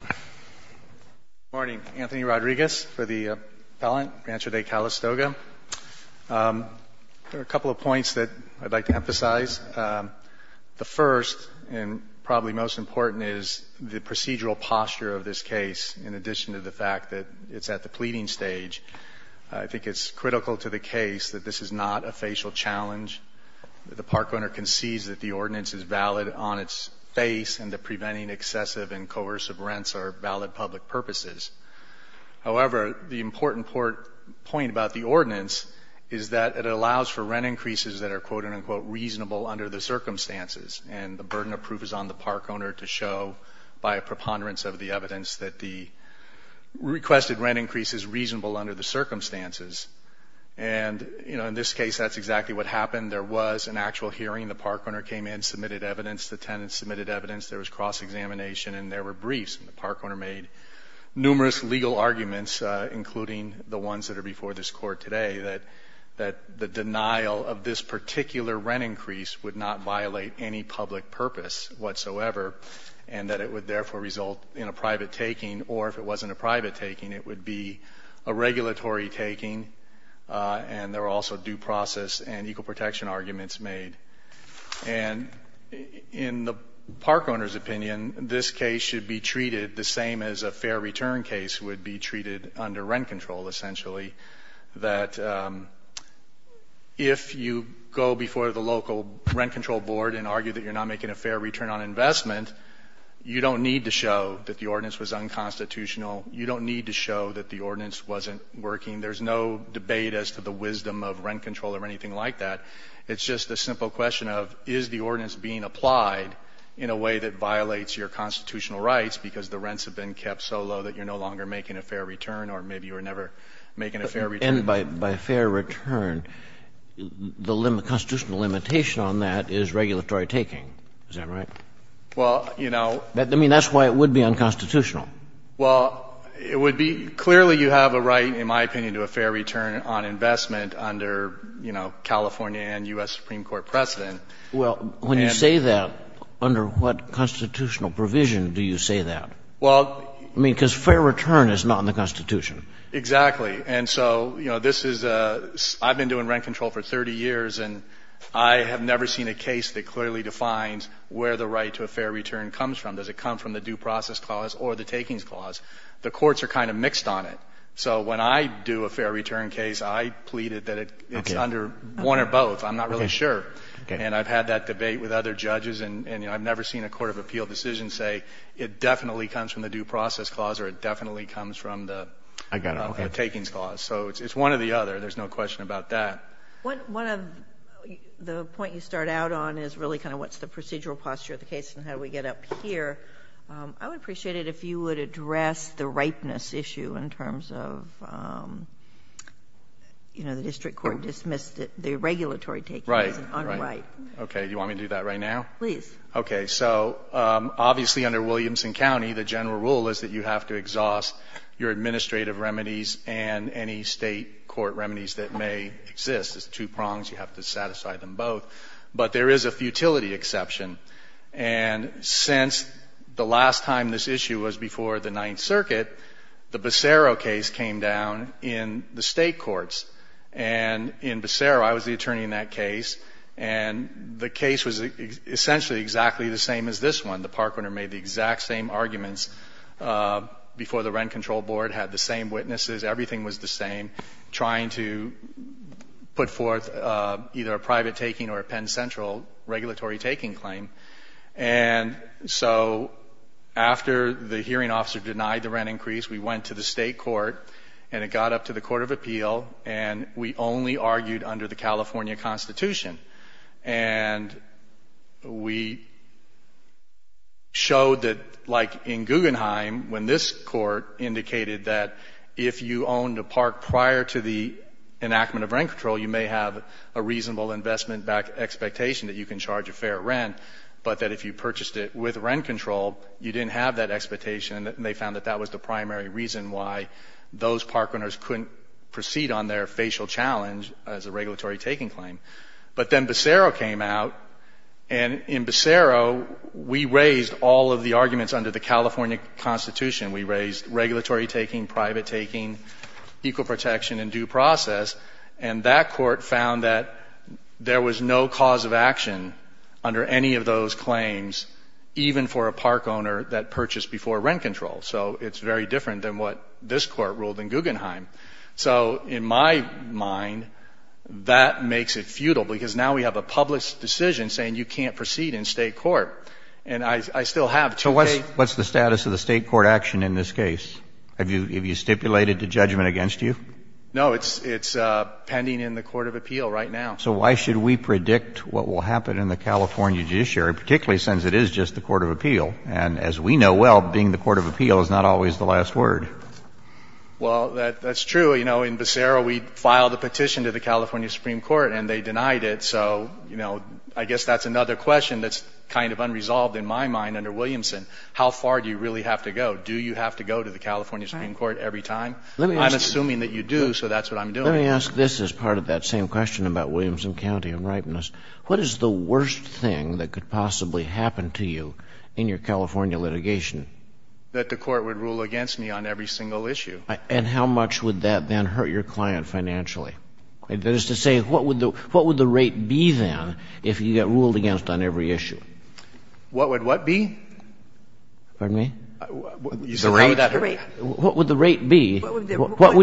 Good morning. Anthony Rodriguez for the appellant, Rancho de Calistoga. There are a couple of points that I'd like to emphasize. The first, and probably most important, is the procedural posture of this case, in addition to the fact that it's at the pleading stage. I think it's critical to the case that this is not a facial challenge. The park owner concedes that the ordinance is valid on its face and that preventing excessive and coercive rents are valid public purposes. However, the important point about the ordinance is that it allows for rent increases that are quote-unquote reasonable under the circumstances, and the burden of proof is on the park owner to show, by a preponderance of the evidence, that the requested rent increase is reasonable under the circumstances. And in this case, that's exactly what happened. There was an actual hearing. The park owner came in, submitted evidence. The tenant submitted evidence. There was cross-examination, and there were briefs. And the park owner made numerous legal arguments, including the ones that are before this Court today, that the denial of this particular rent increase would not violate any public purpose whatsoever and that it would therefore result in a private taking, or if it wasn't a private taking, it would be a regulatory taking. And there were also due process and equal protection arguments made. And in the park owner's opinion, this case should be treated the same as a fair return case would be treated under rent control, essentially, that if you go before the local rent control board and argue that you're not making a fair return on investment, you don't need to show that the ordinance was unconstitutional. You don't need to show that the ordinance wasn't working. There's no debate as to the wisdom of rent control or anything like that. It's just a simple question of is the ordinance being applied in a way that violates your constitutional rights because the rents have been kept so low that you're no longer making a fair return, or maybe you were never making a fair return. And by fair return, the constitutional limitation on that is regulatory taking. Is that right? Well, you know. I mean, that's why it would be unconstitutional. Well, it would be. Clearly you have a right, in my opinion, to a fair return on investment under, you know, California and U.S. Supreme Court precedent. Well, when you say that, under what constitutional provision do you say that? Well. I mean, because fair return is not in the Constitution. Exactly. And so, you know, this is a — I've been doing rent control for 30 years, and I have never seen a case that clearly defines where the right to a fair return comes from. Does it come from the due process clause or the takings clause? The courts are kind of mixed on it. So when I do a fair return case, I plead it that it's under one or both. I'm not really sure. And I've had that debate with other judges, and I've never seen a court of appeal decision say it definitely comes from the due process clause or it definitely comes from the takings clause. So it's one or the other. There's no question about that. One of the points you start out on is really kind of what's the procedural posture of the case and how do we get up here. I would appreciate it if you would address the ripeness issue in terms of, you know, the district court dismissed the regulatory taking as an unright. Right. Okay. Do you want me to do that right now? Please. Okay. So obviously under Williamson County, the general rule is that you have to exhaust your administrative remedies and any State court remedies that may exist. There's two prongs. You have to satisfy them both. But there is a futility exception. And since the last time this issue was before the Ninth Circuit, the Becerra case came down in the State courts. And in Becerra, I was the attorney in that case, and the case was essentially exactly the same as this one. The parkrunner made the exact same arguments before the rent control board, had the same witnesses, everything was the same, trying to put forth either a private taking or a Penn Central regulatory taking claim. And so after the hearing officer denied the rent increase, we went to the State court and it got up to the Court of Appeal, and we only argued under the California Constitution. And we showed that, like in Guggenheim, when this court indicated that if you owned a park prior to the enactment of rent control, you may have a reasonable investment expectation that you can charge a fair rent, but that if you purchased it with rent control, you didn't have that expectation. And they found that that was the primary reason why those parkrunners couldn't proceed on their facial challenge as a regulatory taking claim. But then Becerra came out, and in Becerra, we raised all of the arguments under the California Constitution. We raised regulatory taking, private taking, equal protection, and due process, and that court found that there was no cause of action under any of those claims, even for a parkowner that purchased before rent control. So it's very different than what this court ruled in Guggenheim. So in my mind, that makes it futile, because now we have a public decision saying you can't proceed in State court. And I still have two cases. So what's the status of the State court action in this case? Have you stipulated the judgment against you? No. It's pending in the court of appeal right now. So why should we predict what will happen in the California judiciary, particularly since it is just the court of appeal? And as we know well, being the court of appeal is not always the last word. Well, that's true. You know, in Becerra, we filed a petition to the California Supreme Court, and they denied it. So, you know, I guess that's another question that's kind of unresolved in my mind under Williamson. How far do you really have to go? Do you have to go to the California Supreme Court every time? I'm assuming that you do, so that's what I'm doing. Let me ask this as part of that same question about Williamson County and ripeness. What is the worst thing that could possibly happen to you in your California litigation? That the court would rule against me on every single issue. And how much would that then hurt your client financially? That is to say, what would the rate be, then, if you get ruled against on every issue? What would what be? Pardon me? The rate. What would the rate be? What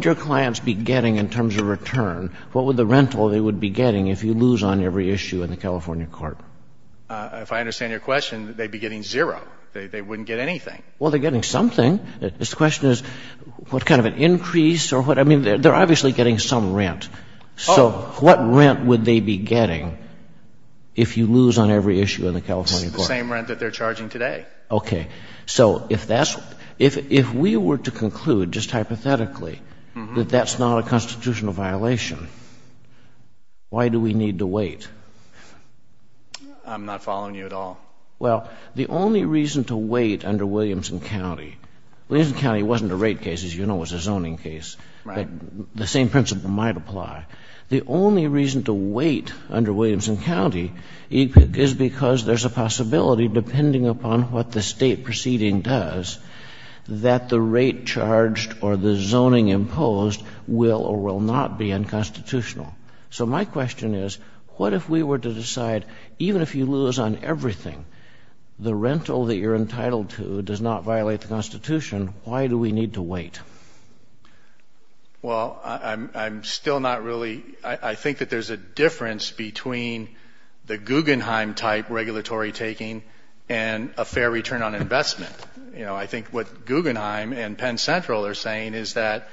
would your clients be getting in terms of return? What would the rental they would be getting if you lose on every issue in the California court? If I understand your question, they'd be getting zero. They wouldn't get anything. Well, they're getting something. The question is what kind of an increase or what? I mean, they're obviously getting some rent. So what rent would they be getting if you lose on every issue in the California court? The same rent that they're charging today. Okay. So if that's — if we were to conclude just hypothetically that that's not a constitutional violation, why do we need to wait? I'm not following you at all. Well, the only reason to wait under Williamson County — Williamson County wasn't a rate case. As you know, it was a zoning case. Right. The same principle might apply. The only reason to wait under Williamson County is because there's a possibility, depending upon what the State proceeding does, that the rate charged or the zoning imposed will or will not be unconstitutional. So my question is, what if we were to decide even if you lose on everything, the rental that you're entitled to does not violate the Constitution, why do we need to wait? Well, I'm still not really — I think that there's a difference between the Guggenheim type regulatory taking and a fair return on investment. You know, I think what Guggenheim and Penn Central are saying is that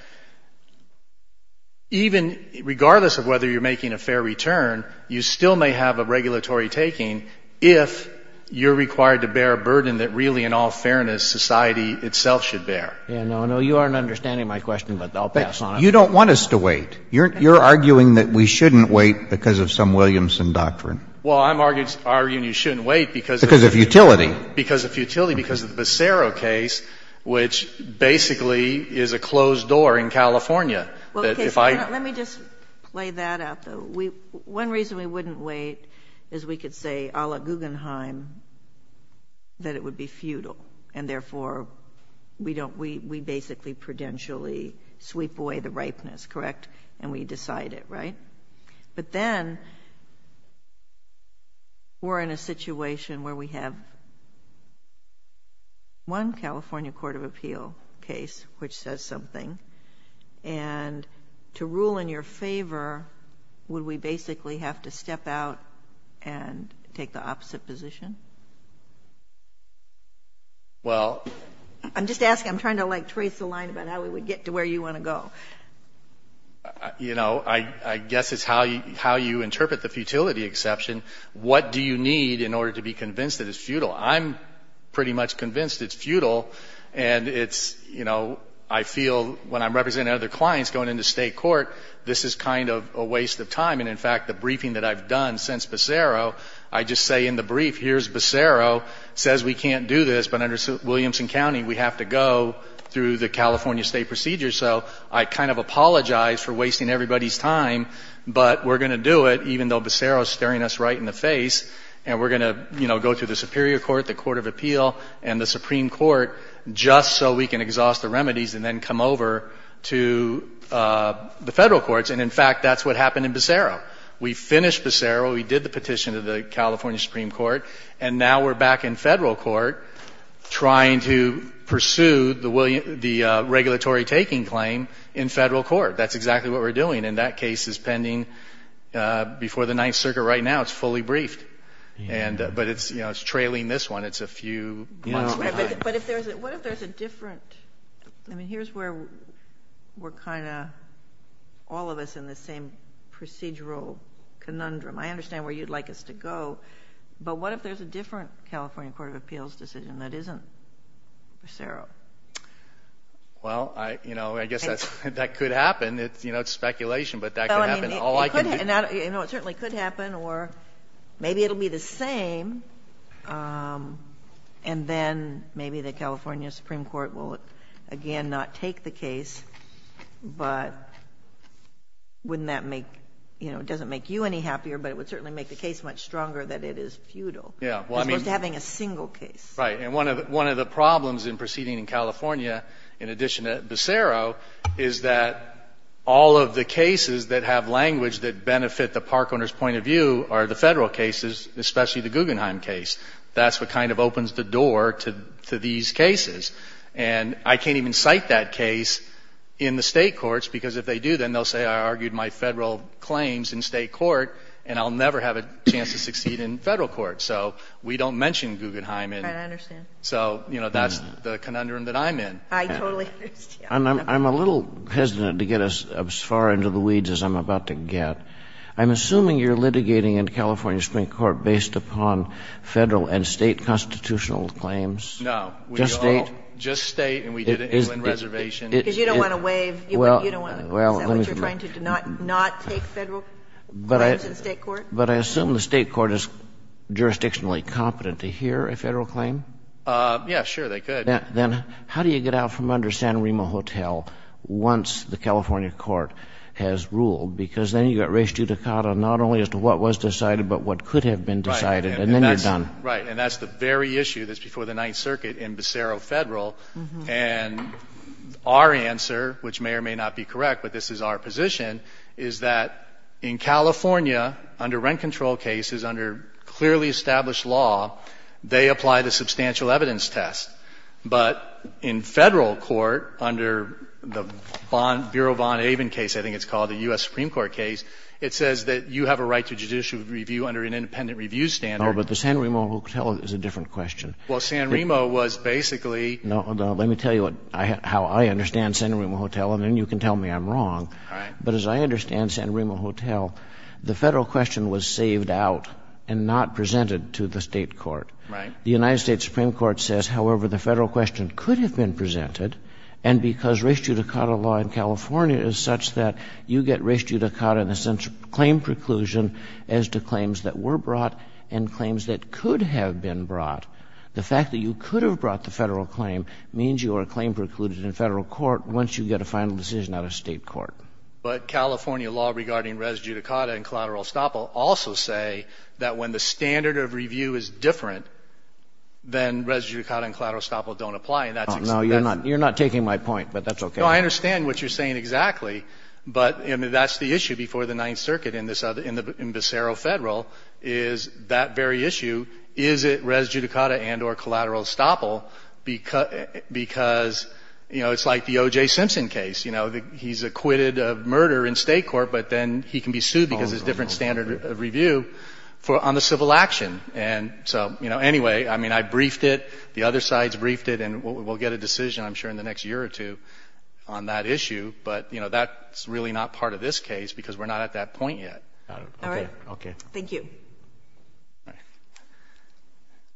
even — regardless of whether you're making a fair return, you still may have a regulatory taking if you're required to bear a burden that really, in all fairness, society itself should bear. Yeah. No, no. You aren't understanding my question, but I'll pass on it. But you don't want us to wait. You're arguing that we shouldn't wait because of some Williamson doctrine. Well, I'm arguing you shouldn't wait because of — Because of utility. Because of utility, because of the Becero case, which basically is a closed door in California. Let me just play that out, though. One reason we wouldn't wait is we could say, a la Guggenheim, that it would be futile, and therefore we basically prudentially sweep away the ripeness, correct? And we decide it, right? But then we're in a situation where we have one California court of appeal case which says something, and to rule in your favor, would we basically have to step out and take the opposite position? Well — I'm just asking. I'm trying to, like, trace the line about how we would get to where you want to go. You know, I guess it's how you interpret the futility exception. What do you need in order to be convinced that it's futile? I'm pretty much convinced it's futile. And it's, you know, I feel when I'm representing other clients going into state court, this is kind of a waste of time. And in fact, the briefing that I've done since Becero, I just say in the brief, here's Becero, says we can't do this. But under Williamson County, we have to go through the California state procedure. So I kind of apologize for wasting everybody's time. But we're going to do it, even though Becero is staring us right in the face. And we're going to, you know, go through the Superior Court, the Court of Appeal, and the Supreme Court, just so we can exhaust the remedies and then come over to the federal courts. And in fact, that's what happened in Becero. We finished Becero. We did the petition to the California Supreme Court. And now we're back in federal court trying to pursue the regulatory taking claim in federal court. That's exactly what we're doing. And that case is pending before the Ninth Circuit right now. It's fully briefed. But, you know, it's trailing this one. It's a few months behind. But what if there's a different, I mean, here's where we're kind of, all of us in the same procedural conundrum. I understand where you'd like us to go. But what if there's a different California Court of Appeals decision that isn't Becero? Well, you know, I guess that could happen. You know, it's speculation. But that could happen. It certainly could happen. Or maybe it will be the same, and then maybe the California Supreme Court will again not take the case. But wouldn't that make, you know, it doesn't make you any happier, but it would certainly make the case much stronger that it is futile. Yeah. Because we're having a single case. Right. And one of the problems in proceeding in California, in addition to Becero, is that all of the language that benefit the park owner's point of view are the federal cases, especially the Guggenheim case. That's what kind of opens the door to these cases. And I can't even cite that case in the state courts, because if they do, then they'll say I argued my federal claims in state court, and I'll never have a chance to succeed in federal court. So we don't mention Guggenheim. Right, I understand. So, you know, that's the conundrum that I'm in. I totally understand. And I'm a little hesitant to get as far into the weeds as I'm about to get. I'm assuming you're litigating in California Supreme Court based upon Federal and State constitutional claims. No. Just State? Just State, and we did it in England Reservation. Because you don't want to waive, you don't want to, is that what you're trying to do, not take Federal claims in State court? But I assume the State court is jurisdictionally competent to hear a Federal claim? Yeah, sure, they could. Then how do you get out from under Santa Rima Hotel once the California court has ruled? Because then you've got res judicata not only as to what was decided, but what could have been decided, and then you're done. Right. And that's the very issue that's before the Ninth Circuit in Becero Federal. And our answer, which may or may not be correct, but this is our position, is that in California, under rent control cases, under clearly established law, they apply the substantial evidence test. But in Federal court, under the bond, Bureau of Bond-Aven case, I think it's called, the U.S. Supreme Court case, it says that you have a right to judicial review under an independent review standard. No, but the Santa Rima Hotel is a different question. Well, Santa Rima was basically. Now, let me tell you how I understand Santa Rima Hotel, and then you can tell me I'm wrong. All right. But as I understand Santa Rima Hotel, the Federal question was saved out and not presented to the State court. Right. The United States Supreme Court says, however, the Federal question could have been presented, and because res judicata law in California is such that you get res judicata in the sense of claim preclusion as to claims that were brought and claims that could have been brought. The fact that you could have brought the Federal claim means you are claim precluded in Federal court once you get a final decision out of State court. But California law regarding res judicata and collateral estoppel also say that when the standard of review is different, then res judicata and collateral estoppel don't apply. And that's. No, you're not. You're not taking my point, but that's okay. No, I understand what you're saying exactly. But that's the issue before the Ninth Circuit in this other, in Becero Federal, is that very issue. Is it res judicata and or collateral estoppel because, you know, it's like the OJ Simpson case. You know, he's acquitted of murder in State court, but then he can be sued because there's different standard of review for on the civil action. And so, you know, anyway, I mean, I briefed it, the other sides briefed it, and we'll get a decision, I'm sure, in the next year or two on that issue. But, you know, that's really not part of this case because we're not at that point yet. All right. Okay. Thank you. All right.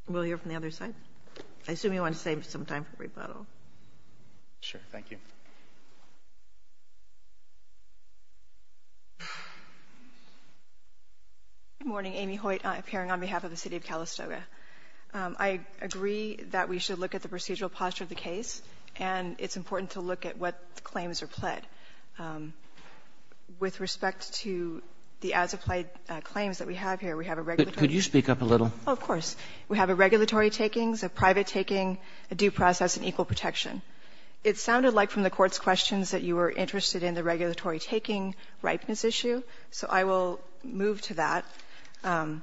We'll hear from the other side. I assume you want to save some time for rebuttal. Sure. Thank you. Good morning. Amy Hoyt, appearing on behalf of the City of Calistoga. I agree that we should look at the procedural posture of the case, and it's important to look at what claims are pled. With respect to the as-applied claims that we have here, we have a regulatory take. Could you speak up a little? Of course. We have a regulatory takings, a private taking, a due process, and equal protection. It sounded like from the Court's questions that you were interested in the regulatory taking ripeness issue, so I will move to that. I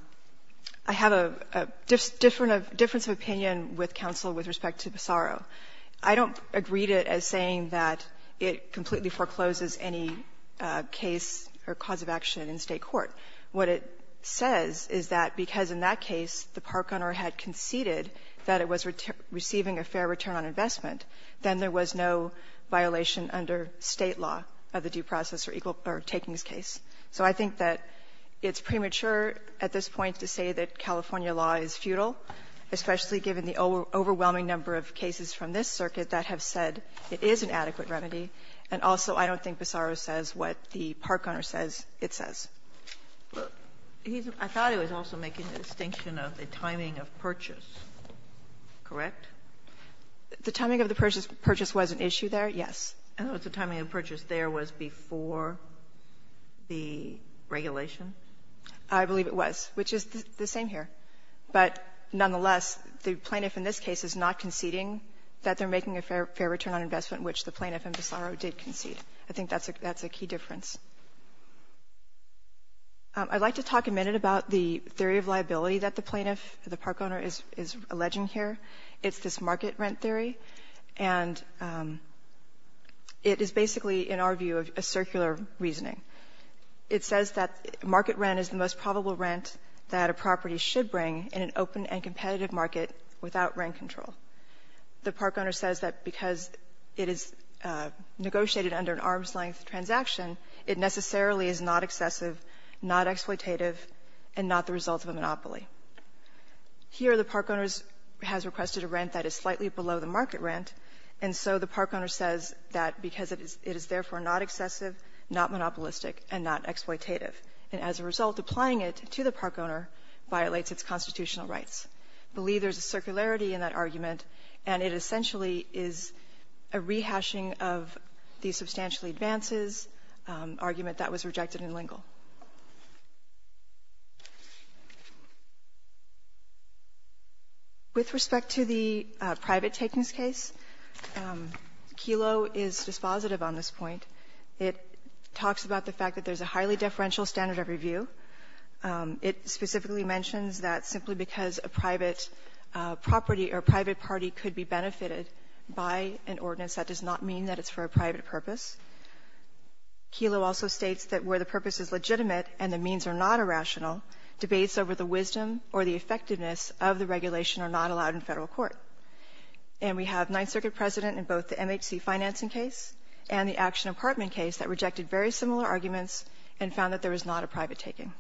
have a difference of opinion with counsel with respect to PASARO. I don't agree to it as saying that it completely forecloses any case or cause of action in State court. What it says is that because in that case the park owner had conceded that it was receiving a fair return on investment, then there was no violation under State law of the due process or equal or takings case. So I think that it's premature at this point to say that California law is futile, especially given the overwhelming number of cases from this circuit that have said it is an adequate remedy, and also I don't think PASARO says what the park owner says it says. Sotomayor, I thought it was also making a distinction of the timing of purchase. Correct? The timing of the purchase was an issue there, yes. In other words, the timing of purchase there was before the regulation? I believe it was, which is the same here. But nonetheless, the plaintiff in this case is not conceding that they're making a fair return on investment, which the plaintiff in PASARO did concede. I think that's a key difference. I'd like to talk a minute about the theory of liability that the plaintiff, the park owner, is alleging here. It's this market rent theory, and it is basically, in our view, a circular reasoning. It says that market rent is the most probable rent that a property should bring in an open and competitive market without rent control. The park owner says that because it is negotiated under an arm's length transaction, it necessarily is not excessive, not exploitative, and not the result of a monopoly. Here, the park owner has requested a rent that is slightly below the market rent, and so the park owner says that because it is therefore not excessive, not monopolistic, and not exploitative. And as a result, applying it to the park owner violates its constitutional rights. I believe there's a circularity in that argument, and it essentially is a rehashing of the substantially advances argument that was rejected in Lingle. With respect to the private takings case, Kelo is dispositive on this point. It talks about the fact that there's a highly deferential standard of review. It specifically mentions that simply because a private property or a private party could be benefited by an ordinance, that does not mean that it's for a private purpose. Kelo also states that where the purpose is legitimate and the means are not irrational, debates over the wisdom or the effectiveness of the regulation are not allowed in Federal court. And we have Ninth Circuit precedent in both the MHC financing case and the Action Apartment case that rejected very similar arguments and found that there was not a private taking.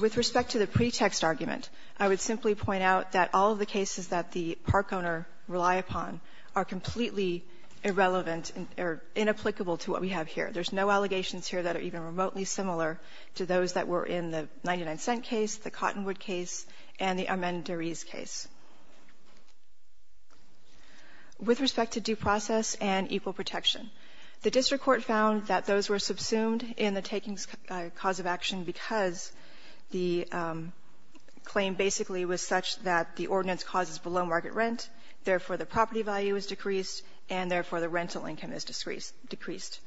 With respect to the pretext argument, I would simply point out that all of the cases that the park owner rely upon are completely irrelevant or inapplicable to what we have here. There's no allegations here that are even remotely similar to those that were in the 99-cent case, the Cottonwood case, and the Amendarese case. With respect to due process and equal protection, the district court found that those were subsumed in the takings cause of action because the claim basically was such that the ordinance causes below-market rent, therefore the property value is decreased, and therefore the rental income is decreased.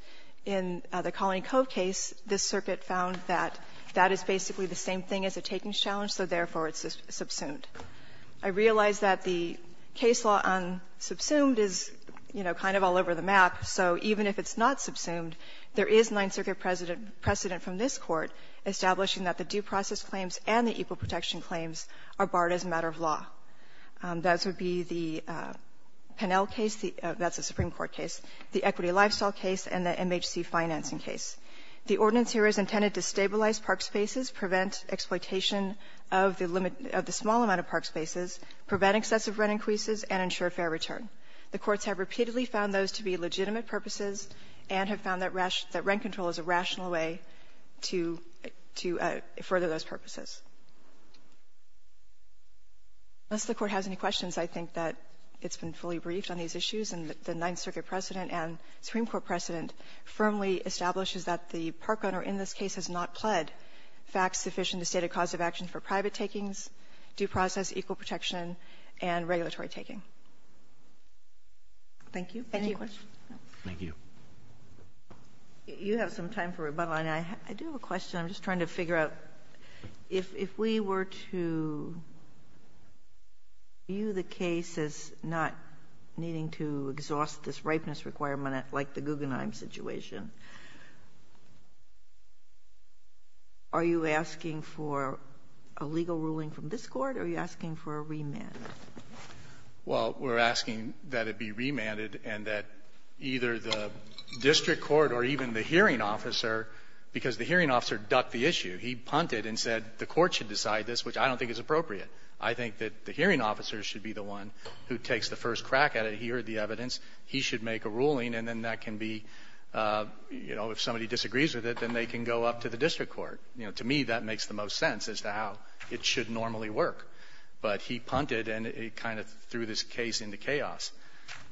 In the Colony Cove case, this circuit found that that is basically the same thing as a takings challenge, so therefore it's subsumed. I realize that the case law on subsumed is, you know, kind of all over the map, so even if it's not subsumed, there is Ninth Circuit precedent from this Court establishing that the due process claims and the equal protection claims are barred as a matter of law. Those would be the Pennell case, that's a Supreme Court case, the equity lifestyle case, and the MHC financing case. The ordinance here is intended to stabilize park spaces, prevent exploitation of the small amount of park spaces, prevent excessive rent increases, and ensure fair return. The courts have repeatedly found those to be legitimate purposes and have found that rent control is a rational way to further those purposes. Unless the Court has any questions, I think that it's been fully briefed on these issues, and the Ninth Circuit precedent and Supreme Court precedent firmly establishes that the park owner in this case has not pled facts sufficient to state a cause of action for private takings, due process, equal protection, and regulatory taking. Thank you. Any questions? Thank you. You have some time for rebuttal, and I do have a question. I'm just trying to figure out, if we were to view the case as not needing to exhaust this ripeness requirement like the Guggenheim situation, are you asking for a legal ruling from this Court, or are you asking for a remand? Well, we're asking that it be remanded and that either the district court or even the hearing officer, because the hearing officer ducked the issue. He punted and said the Court should decide this, which I don't think is appropriate. I think that the hearing officer should be the one who takes the first crack at it. He should make a ruling, and then that can be, you know, if somebody disagrees with it, then they can go up to the district court. You know, to me, that makes the most sense as to how it should normally work. But he punted, and it kind of threw this case into chaos.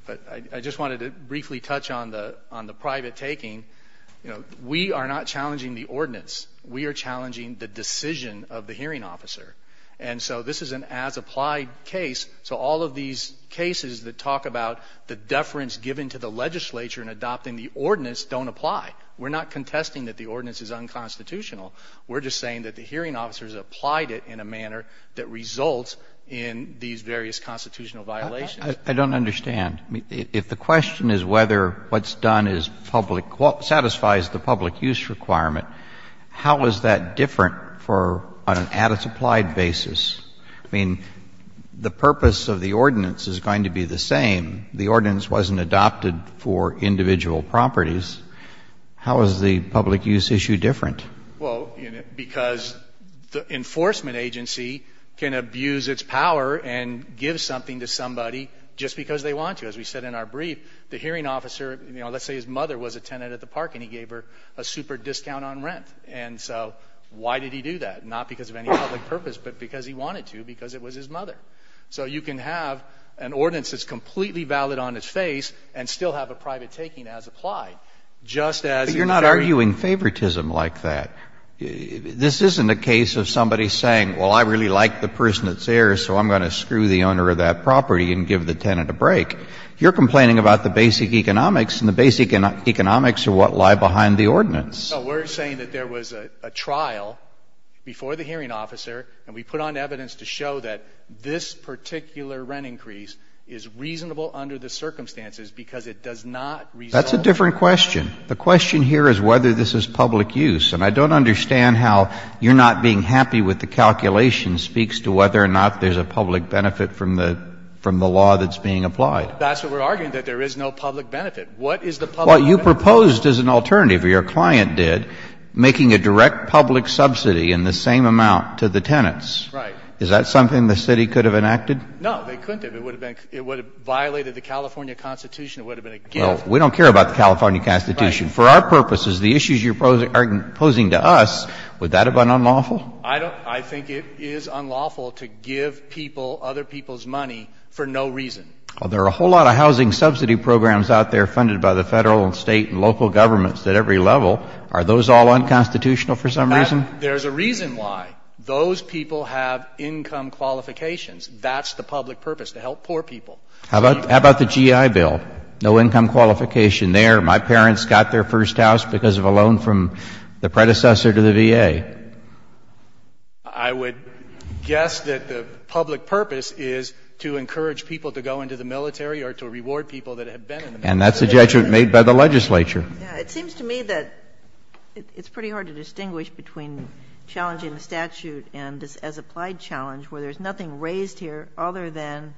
But I just wanted to briefly touch on the private taking. You know, we are not challenging the ordinance. We are challenging the decision of the hearing officer. And so this is an as-applied case. So all of these cases that talk about the deference given to the legislature in adopting the ordinance don't apply. We're not contesting that the ordinance is unconstitutional. We're just saying that the hearing officer has applied it in a manner that results in these various constitutional violations. I don't understand. If the question is whether what's done is public, satisfies the public use requirement, how is that different for an as-applied basis? I mean, the purpose of the ordinance is going to be the same. The ordinance wasn't adopted for individual properties. How is the public use issue different? Well, because the enforcement agency can abuse its power and give something to somebody just because they want to. As we said in our brief, the hearing officer, you know, let's say his mother was a tenant at the park and he gave her a super discount on rent. And so why did he do that? Not because of any public purpose, but because he wanted to, because it was his mother. So you can have an ordinance that's completely valid on its face and still have a private taking as applied, just as if there were. But you're not arguing favoritism like that. This isn't a case of somebody saying, well, I really like the person that's there, so I'm going to screw the owner of that property and give the tenant a break. You're complaining about the basic economics, and the basic economics are what lie behind the ordinance. No, we're saying that there was a trial before the hearing officer, and we put on evidence to show that this particular rent increase is reasonable under the circumstances because it does not result. That's a different question. The question here is whether this is public use. And I don't understand how you're not being happy with the calculation speaks to whether or not there's a public benefit from the law that's being applied. That's what we're arguing, that there is no public benefit. What is the public benefit? Well, you proposed as an alternative, or your client did, making a direct public subsidy in the same amount to the tenants. Right. Is that something the city could have enacted? No, they couldn't have. It would have violated the California Constitution. It would have been a gift. Well, we don't care about the California Constitution. For our purposes, the issues you're posing to us, would that have been unlawful? I think it is unlawful to give people other people's money for no reason. Well, there are a whole lot of housing subsidy programs out there funded by the Federal and State and local governments at every level. Are those all unconstitutional for some reason? There's a reason why. Those people have income qualifications. That's the public purpose, to help poor people. How about the GI Bill? No income qualification there. My parents got their first house because of a loan from the predecessor to the VA. I would guess that the public purpose is to encourage people to go into the military or to reward people that have been in the military. And that's a judgment made by the legislature. It seems to me that it's pretty hard to distinguish between challenging the statute and as applied challenge, where there's nothing raised here other than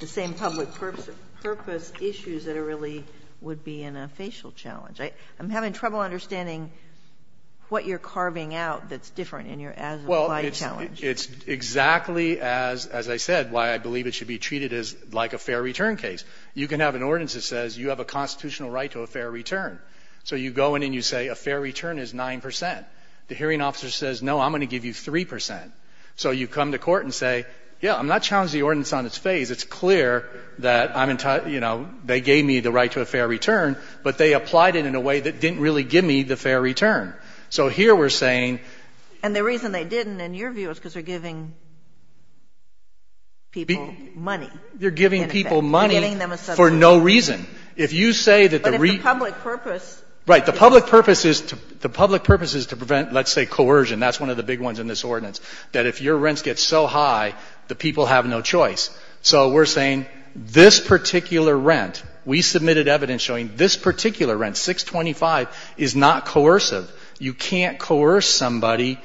the same public purpose issues that really would be in a facial challenge. I'm having trouble understanding what you're carving out that's different in your as applied challenge. Well, it's exactly, as I said, why I believe it should be treated as like a fair return case. You can have an ordinance that says you have a constitutional right to a fair return. So you go in and you say a fair return is 9 percent. The hearing officer says, no, I'm going to give you 3 percent. So you come to court and say, yeah, I'm not challenging the ordinance on its face. It's clear that, you know, they gave me the right to a fair return, but they applied it in a way that didn't really give me the fair return. So here we're saying — And the reason they didn't in your view is because they're giving people money. They're giving people money for no reason. If you say that the — But if the public purpose — Right. The public purpose is to prevent, let's say, coercion. That's one of the big ones in this ordinance, that if your rents get so high, the people have no choice. So we're saying this particular rent, we submitted evidence showing this particular rent, 625, is not coercive. You can't coerce somebody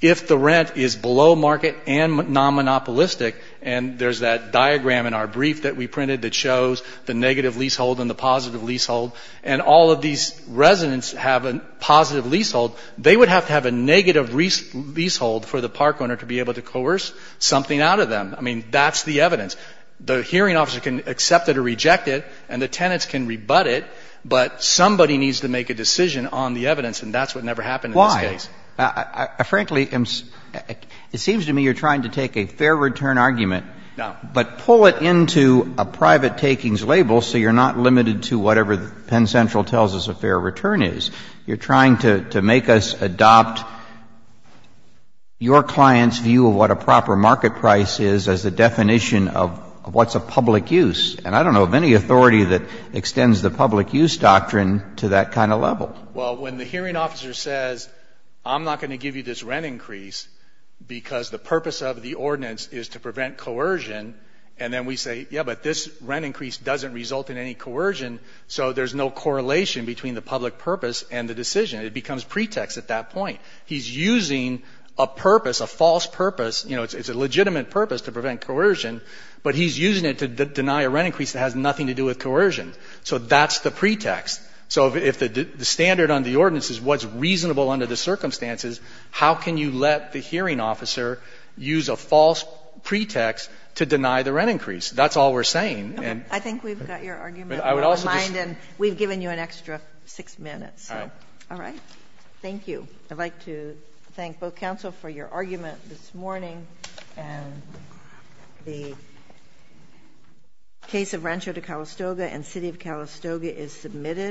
if the rent is below market and non-monopolistic. And there's that diagram in our brief that we printed that shows the negative leasehold and the positive leasehold. And all of these residents have a positive leasehold. They would have to have a negative leasehold for the park owner to be able to coerce something out of them. I mean, that's the evidence. The hearing officer can accept it or reject it, and the tenants can rebut it. But somebody needs to make a decision on the evidence, and that's what never happened in this case. Why? Frankly, it seems to me you're trying to take a fair return argument — No. — but pull it into a private takings label so you're not limited to whatever Penn Central tells us a fair return is. You're trying to make us adopt your client's view of what a proper market price is as a definition of what's a public use. And I don't know of any authority that extends the public use doctrine to that kind of level. Well, when the hearing officer says, I'm not going to give you this rent increase because the purpose of the ordinance is to prevent coercion, and then we say, yeah, but this rent increase doesn't result in any coercion, so there's no correlation between the public purpose and the decision. It becomes pretext at that point. He's using a purpose, a false purpose. You know, it's a legitimate purpose to prevent coercion, but he's using it to deny a rent increase that has nothing to do with coercion. So that's the pretext. So if the standard on the ordinance is what's reasonable under the circumstances, how can you let the hearing officer use a false pretext to deny the rent increase? That's all we're saying. Okay. I think we've got your argument. We've given you an extra six minutes. All right. Thank you. I'd like to thank both counsel for your argument this morning. And the case of Rancho de Calistoga and City of Calistoga is submitted.